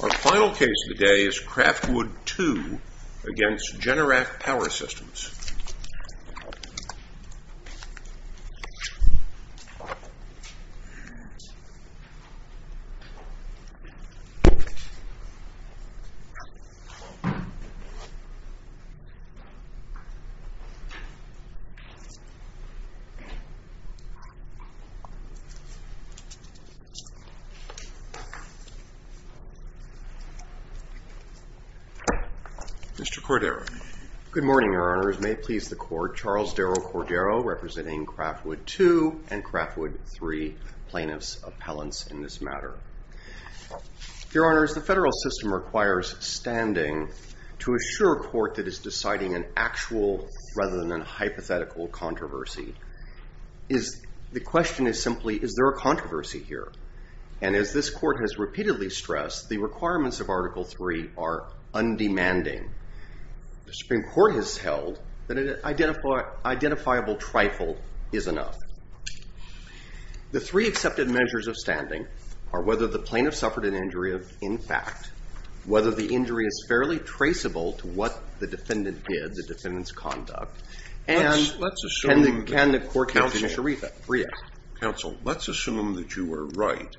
Our final case of the day is Craftwood II against Generac Power Systems. Mr. Cordero. Good morning, Your Honors. May it please the Court, Charles Darrell Cordero representing Craftwood II and Craftwood III plaintiffs' appellants in this matter. Your Honors, the federal system requires standing to assure a court that is deciding an actual rather than a hypothetical controversy. The question is simply, is there a controversy here? And as this Court has repeatedly stressed, the requirements of Article III are undemanding. The Supreme Court has held that an identifiable trifle is enough. The three accepted measures of standing are whether the plaintiff suffered an injury of impact, whether the injury is fairly traceable to what the defendant did, the defendant's conduct, and can the court continue? Counsel, let's assume that you were right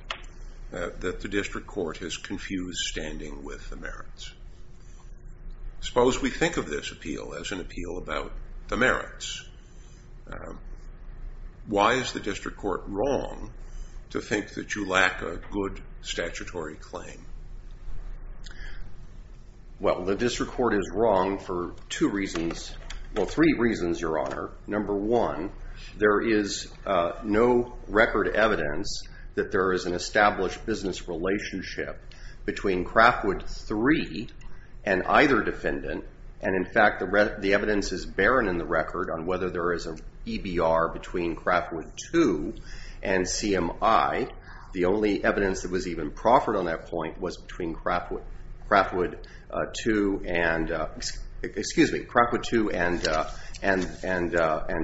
that the district court has confused standing with the merits. Suppose we think of this appeal as an appeal about the merits. Why is the district court wrong to think that you lack a good record? The district court is wrong for three reasons, Your Honor. Number one, there is no record evidence that there is an established business relationship between Craftwood III and either defendant. And in fact, the evidence is barren in the record on whether there is an EBR between Craftwood II and CMI. The only evidence that was even proffered on that point was between Craftwood II and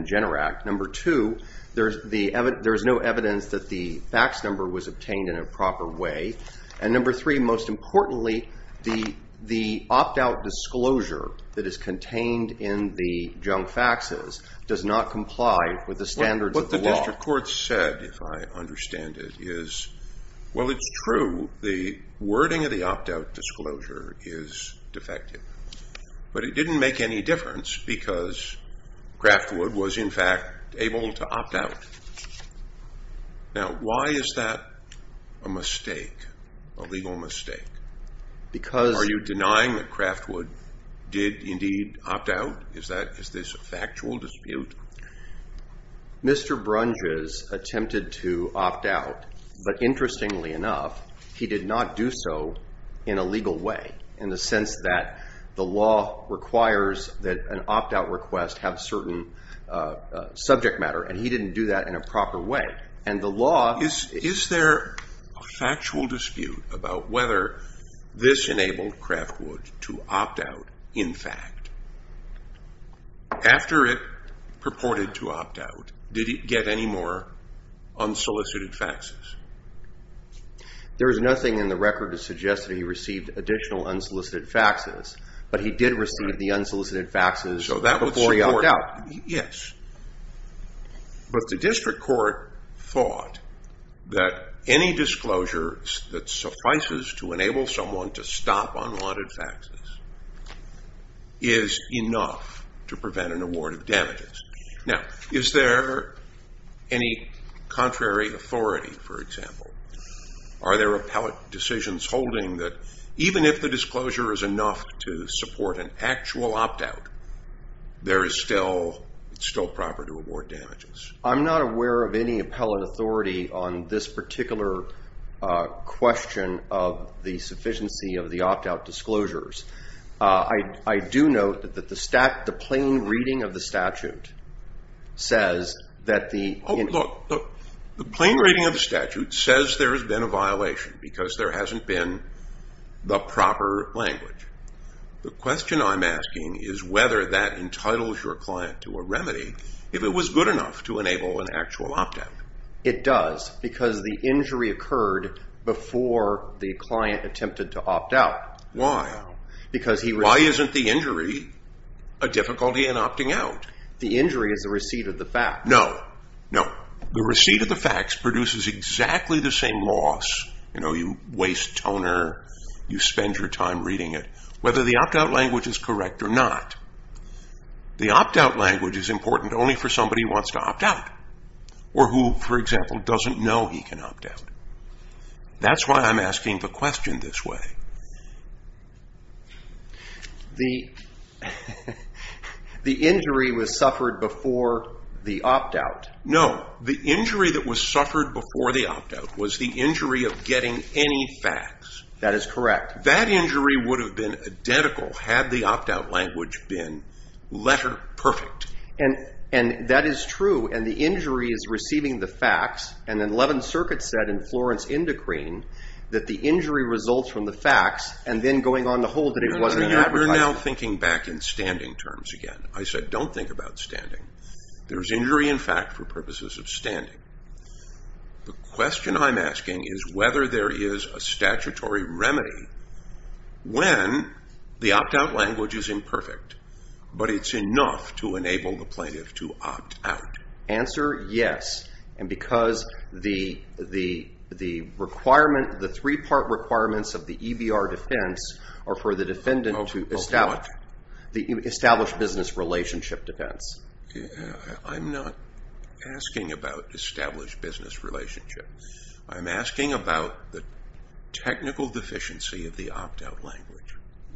Generact. Number two, there is no evidence that the fax number was obtained in a proper way. And number three, most importantly, the opt-out disclosure that is contained in the junk faxes does not comply with the standards of the law. What the district court said, if I understand it, is, well, it's true, the wording of the opt-out disclosure is defective. But it didn't make any difference because Craftwood was in fact able to opt out. Now, why is that a mistake, a legal mistake? Are you denying that Craftwood did indeed opt out? Is this a factual dispute? Mr. Brunges attempted to opt out, but interestingly enough, he did not do so in a legal way, in the sense that the law requires that an opt-out request have certain subject matter, and he didn't do that in a proper way. And the law... Is there a factual dispute about whether this enabled Craftwood to opt out, in fact? After it purported to opt out, did he get any more unsolicited faxes? There is nothing in the record to suggest that he received additional unsolicited faxes, but he did receive the unsolicited faxes before he opted out. Yes. But the district court thought that any disclosure that suffices to enable someone to stop unwanted faxes is enough to prevent an award of damages. Now, is there any contrary authority, for example? Are there appellate decisions holding that even if the disclosure is enough to support an actual opt-out, there is still proper to award damages? I'm not aware of any appellate authority on this particular question of the sufficiency of the opt-out disclosures. I do note that the plain reading of the statute says that the... The plain reading of the statute says there has been a violation, because there hasn't been the proper language. The question I'm asking is whether that entitles your client to a remedy, if it was good enough to enable an actual opt-out. It does, because the injury occurred before the client attempted to opt out. Why? Why isn't the injury a difficulty in opting out? The injury is the receipt of the fax. No. No. The receipt of the fax produces exactly the same loss. You know, you waste toner, you spend your time reading it. Whether the opt-out language is correct or not, the opt-out language is important only for somebody who wants to opt out, or who, for example, doesn't know he can opt out. That's why I'm asking the question this way. The injury was suffered before the opt-out. No. The injury that was suffered before the opt-out was the injury of getting any fax. That is correct. That injury would have been identical had the opt-out language been letter perfect. And that is true. And the injury is receiving the fax. And 11th Circuit said in Florence Indocrine that the injury results from the fax, and then going on to hold that it wasn't an advertisement. You're now thinking back in standing terms again. I said don't think about standing. There's injury in fact for purposes of standing. The question I'm asking is whether there is a statutory remedy when the opt-out language is imperfect, but it's enough to enable the plaintiff to opt out. Answer, yes. And because the three-part requirements of the EBR defense are for the defendant to establish business relationship defense. I'm not asking about established business relationship. I'm asking about the technical deficiency of the opt-out language.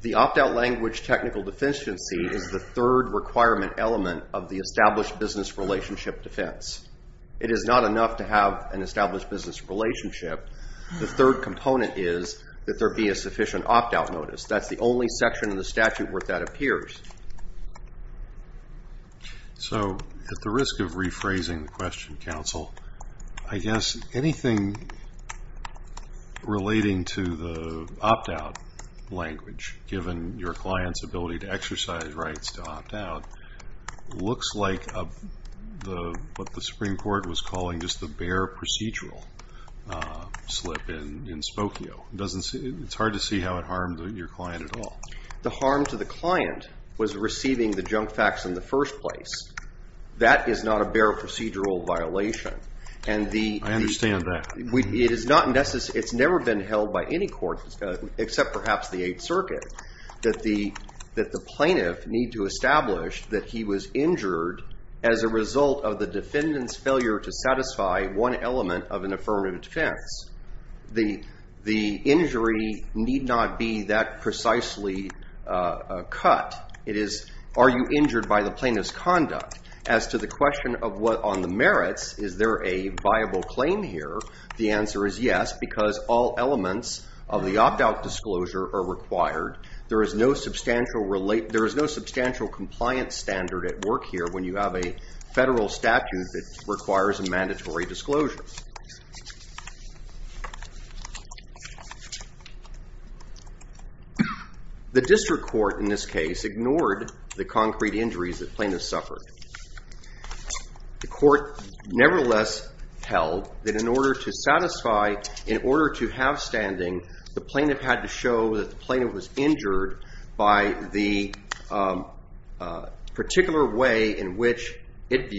The opt-out language technical deficiency is the third requirement element of the established business relationship defense. It is not enough to have an established business relationship. The third component is that there be a sufficient opt-out notice. That's the only section in the statute where that appears. So at the risk of rephrasing the question, counsel, I guess anything relating to the opt-out language given your client's ability to exercise rights to opt-out looks like what the Supreme Court was calling just the bare procedural slip in Spokio. It's hard to see how it harmed your client at all. The harm to the client was receiving the junk facts in the first place. That is not a bare procedural violation. I understand that. It's never been held by any court except perhaps the Eighth Circuit that the plaintiff need to establish that he was injured as a result of the defendant's failure to satisfy one element of an affirmative defense. The injury need not be that As to the question of what on the merits, is there a viable claim here? The answer is yes, because all elements of the opt-out disclosure are required. There is no substantial compliance standard at work here when you have a federal statute that requires a mandatory disclosure. The district court in this case ignored the concrete injuries the plaintiff suffered. The court nevertheless held that in order to satisfy, in order to have standing, the plaintiff had to show that the plaintiff was injured by the particular way in which it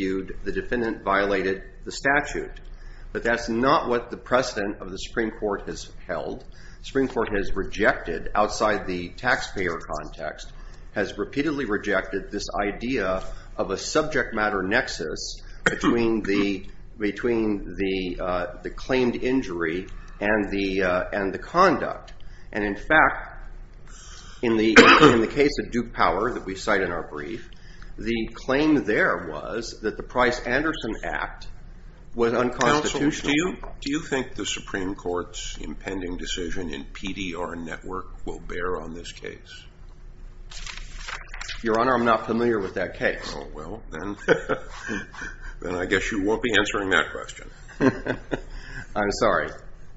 But that's not what the precedent of the Supreme Court has held. Outside the taxpayer context, has repeatedly rejected this idea of a subject matter nexus between the claimed injury and the conduct. In the case of Duke Power that we cite in our brief, the claim there was that the Price-Anderson Act was unconstitutional. Counsel, do you think the Supreme Court's impending decision in PDR Network will bear on this case? Your Honor, I'm not familiar with that case. Well, then I guess you won't be answering that question. I'm sorry.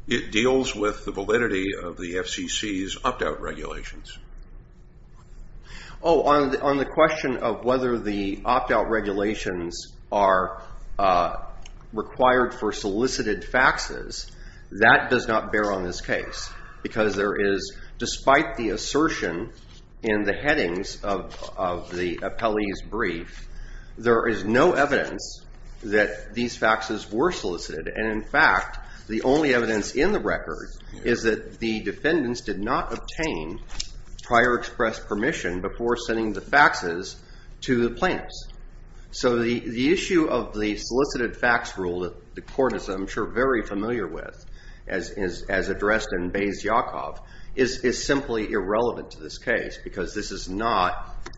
It deals with the validity of the FCC's opt-out regulations. Oh, on the question of whether the opt-out regulations are required for solicited faxes, that does not bear on this case. Because there is, despite the assertion in the headings of the appellee's brief, there is no evidence that these faxes were solicited. And in fact, the only evidence in the record is that the defendants did not obtain prior express permission before sending the faxes to the plaintiffs. So the issue of the solicited fax rule that the court is, I'm sure, very familiar with, as addressed in Bayes-Yakov, is simply irrelevant to this case, because this is not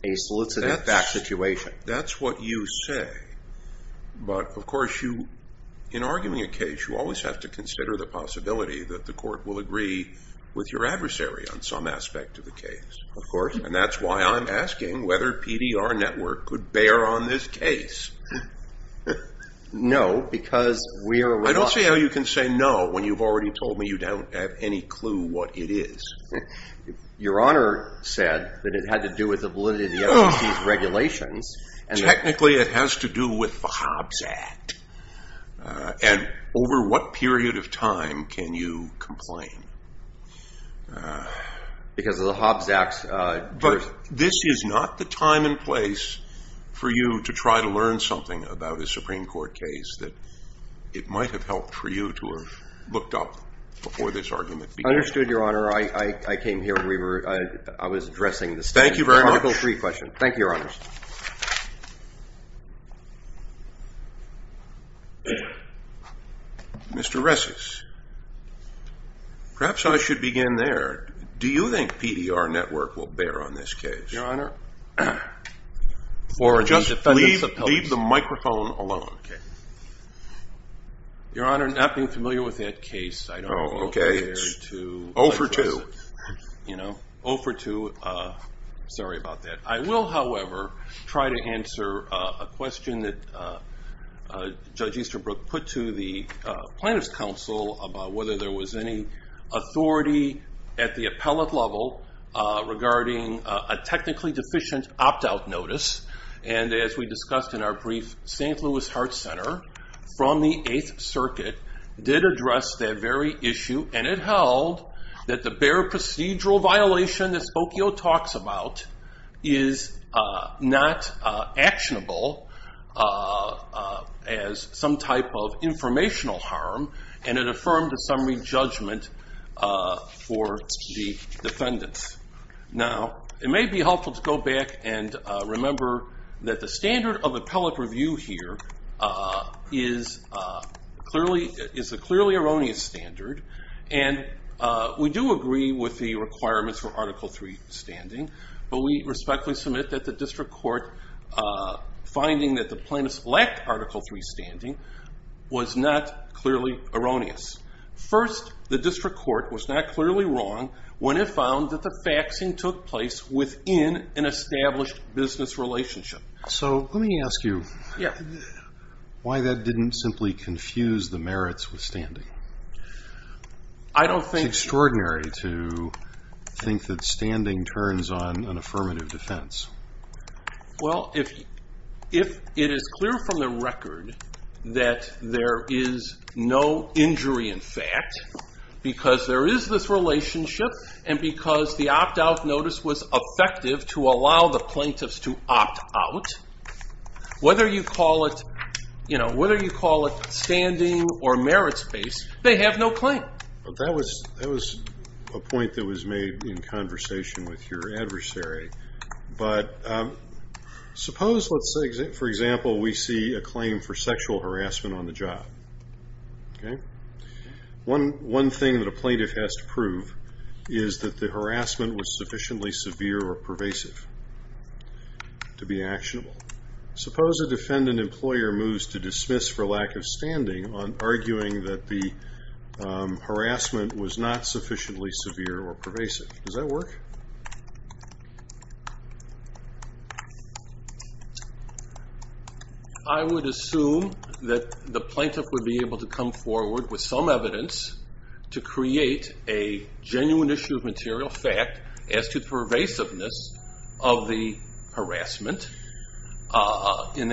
a solicited fax situation. That's what you say. But, of course, in arguing a case, you always have to consider the possibility that the court will agree with your adversary on some aspect of the case. And that's why I'm asking whether PDR Network could bear on this case. No, because we are aware... I don't see how you can say no when you've already told me you don't have any clue what it is. Your Honor said that it had to do with the validity of the FCC's regulations. Technically, it has to do with the Hobbs Act. And over what period of time can you complain? Because of the Hobbs Act... But this is not the time and place for you to try to learn something about a Supreme Court case that it might have helped for you to have looked up before this argument began. Understood, Your Honor. I came here when we were... I was addressing this... Thank you very much. Article III question. Thank you, Your Honor. Mr. Resses, perhaps I should begin there. Do you think PDR Network will bear on this case? Your Honor, for the defendants' appeal... Just leave the microphone alone. Your Honor, not being familiar with that case, I don't know where to address it. 0 for 2. Sorry about that. I will, however, try to answer a question that Judge Easterbrook put to the Plaintiff's Council about whether there was any authority at the appellate level regarding a case. And it held that the bare procedural violation that Spokio talks about is not actionable as some type of informational harm, and it affirmed a summary judgment for the defendants. Now, it may be helpful to go back and remember that the standard of appellate review here is a clearly erroneous standard, and we do agree with the requirements for Article III standing, but we respectfully submit that the District Court finding that the plaintiffs lacked Article III standing was not clearly erroneous. First, the District Court was not clearly wrong when it found that the faxing took place within an established business relationship. So let me ask you why that didn't simply confuse the merits with standing. It's extraordinary to think that standing turns on an affirmative defense. Well, if it is clear from the record that there is no injury in fact, because there is this relationship, and because the opt-out notice was effective to allow the plaintiffs to opt out, whether you call it standing or merit space, they have no claim. That was a point that was made in conversation with your adversary, but suppose, for example, we see a claim for sexual harassment on the job. One thing that a plaintiff has to prove is that the harassment was sufficiently severe or pervasive to be actionable. Suppose a defendant employer moves to dismiss for lack of standing on arguing that the harassment was not sufficiently severe or pervasive. Does that work? I would assume that the plaintiff would be able to come forward with some evidence to create a genuine issue of material fact as to pervasiveness of the harassment. Who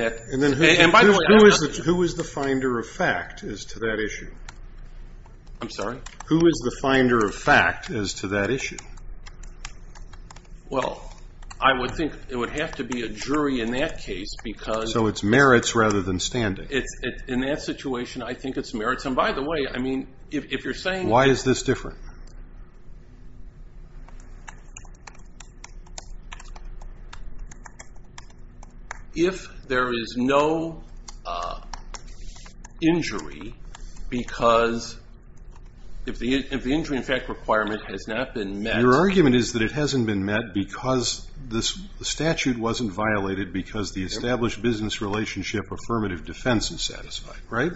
is the finder of fact as to that issue? Who is the finder of fact as to that issue? I would think it would have to be a jury in that case. So it's merits rather than standing. In that situation, I think it's merits. Why is this different? If there is no injury because if the injury in fact requirement has not been met... Your argument is that it hasn't been met because the statute wasn't violated because the established business relationship affirmative defense is satisfied, right?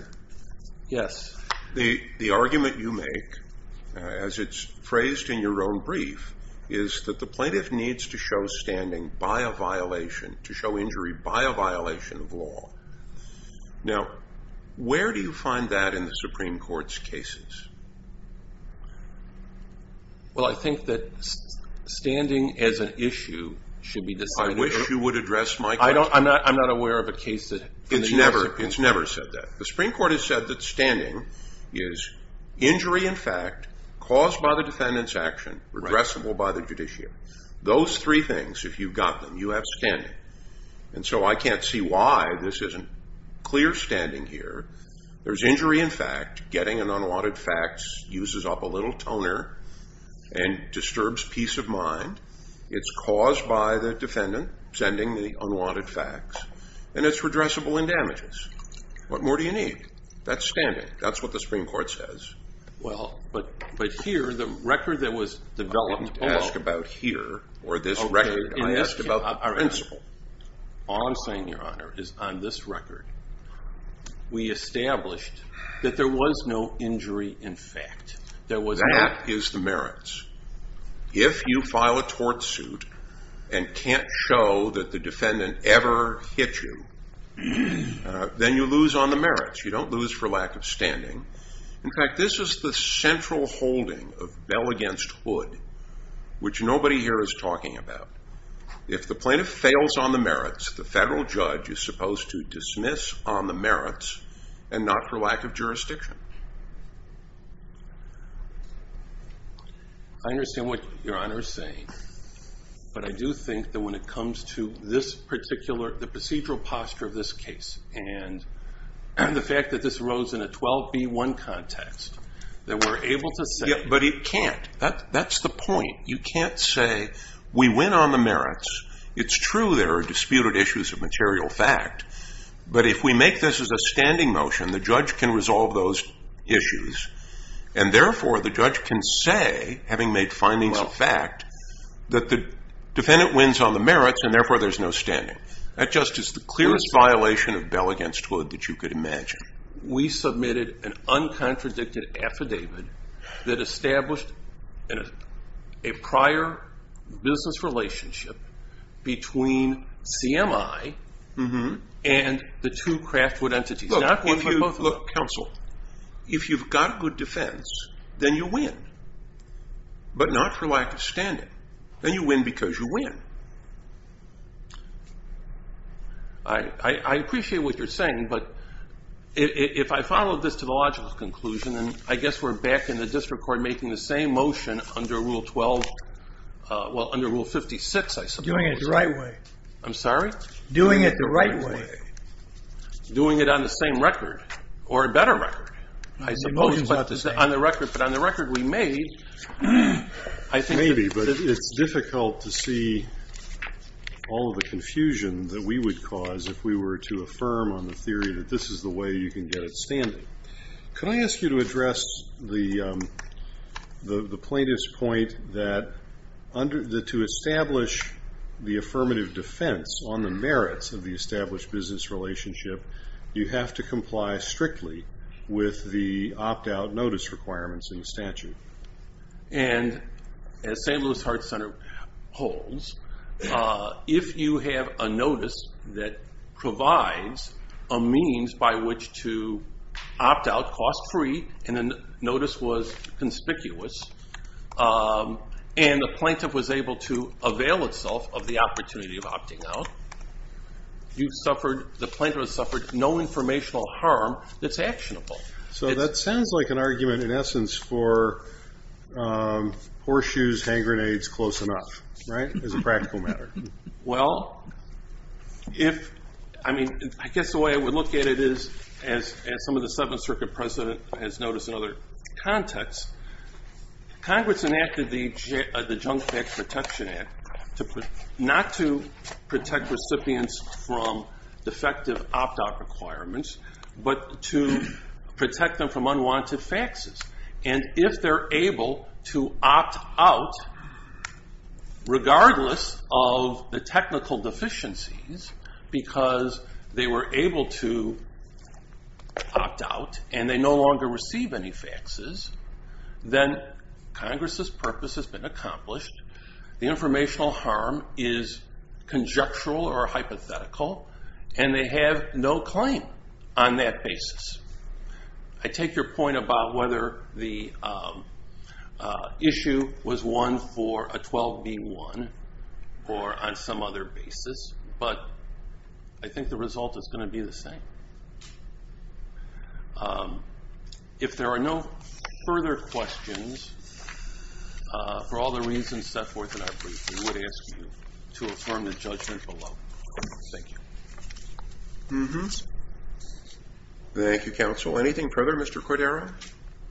Yes. The argument you make, as it's phrased in your own brief, is that the plaintiff needs to show standing by a violation, to show injury by a violation of law. Now, where do you find that in the Supreme Court's cases? Well, I think that standing as an issue should be decided... I wish you would address my question. I'm not aware of a case that... It's never said that. The Supreme Court has said that standing is injury in fact caused by the defendant's action, redressable by the judiciary. Those three things, if you've got them, you have standing. And so I can't see why this isn't clear standing here. There's injury in fact. Getting an unwanted facts uses up a little toner and disturbs peace of mind. It's caused by the defendant sending the unwanted facts. And it's redressable in damages. What more do you need? That's standing. That's what the Supreme Court says. Well, but here, the record that was developed... I didn't ask about here or this record. I asked about the principle. All I'm saying, Your Honor, is on this record, we established that there was no injury in fact. That is the merits. If you file a tort suit and can't show that the defendant ever hit you, then you lose on the merits. You don't lose for lack of standing. In fact, this is the If the plaintiff fails on the merits, the federal judge is supposed to dismiss on the merits and not for lack of jurisdiction. I understand what Your Honor is saying. But I do think that when it comes to the procedural posture of this case and the fact that this arose in a 12B1 context, that we're on the merits. It's true there are disputed issues of material fact. But if we make this as a standing motion, the judge can resolve those issues. And therefore, the judge can say, having made findings of fact, that the defendant wins on the merits and therefore there's no standing. That just is the clearest violation of bell against hood that you could imagine. We submitted an uncontradicted affidavit that established a prior business relationship between CMI and the two Craftwood entities. Counsel, if you've got a good defense, then you win. But not for lack of standing. Then you win because you win. I appreciate what you're saying. I'm sorry? Doing it the right way. Doing it on the same record or a better record. Maybe, but it's difficult to see all of the confusion that we would cause if we were to affirm on the theory that this is the way you can get it standing. Can I ask you to address the plaintiff's point that to establish the affirmative defense on the merits of the established business relationship, you have to comply strictly with the opt-out notice requirements in the statute. And as St. Louis Heart Center holds, if you have a notice that provides a means by which to opt out cost free and the notice was conspicuous and the plaintiff was able to avail itself of the opportunity of opting out, the plaintiff has suffered no informational harm that's actionable. So that sounds like an argument in essence for horseshoes, hand grenades, close enough, right? As a practical matter. Well, I guess the way I would look at it is as some of the Seventh Circuit precedent has noticed in other contexts, Congress enacted the Junk Pack Protection Act not to protect them from unwanted faxes. And if they're able to opt out, regardless of the technical deficiencies, because they were able to opt out and they no longer receive any faxes, then Congress' purpose has been accomplished. The informational harm is on that basis. I take your point about whether the issue was one for a 12B1 or on some other basis, but I think the result is going to be the same. If there are no further questions for all the reasons set forth in our briefing, we would ask you to Thank you, Counsel. Anything further, Mr. Cordero?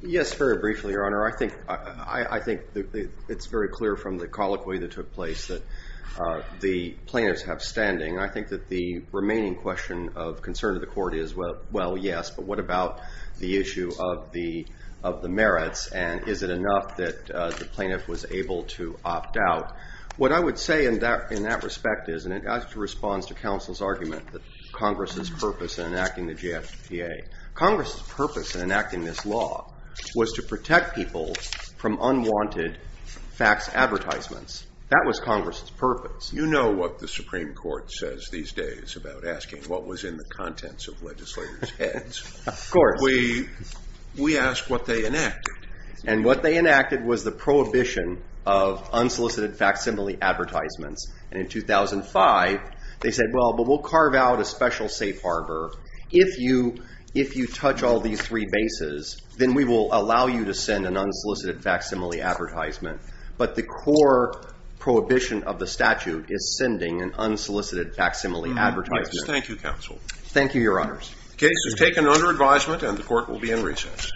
Yes, very briefly, Your Honor. I think it's very clear from the colloquy that took place that the plaintiffs have standing. I think that the remaining question of concern to the court is, well, yes, but what about the issue of the merits and is it enough that the plaintiff was able to opt out? What I would say in that Congress' purpose in enacting this law was to protect people from unwanted fax advertisements. That was Congress' purpose. You know what the Supreme Court says these days about asking what was in the contents of legislators' heads. Of course. We ask what they enacted. And what they enacted was the prohibition of unsolicited facsimile advertisements. And in that statute, if you touch all these three bases, then we will allow you to send an unsolicited facsimile advertisement. But the core prohibition of the statute is sending an unsolicited facsimile advertisement. Thank you, Counsel. Thank you, Your Honors. The case is taken under advisement and the court will be in recess. Thank you.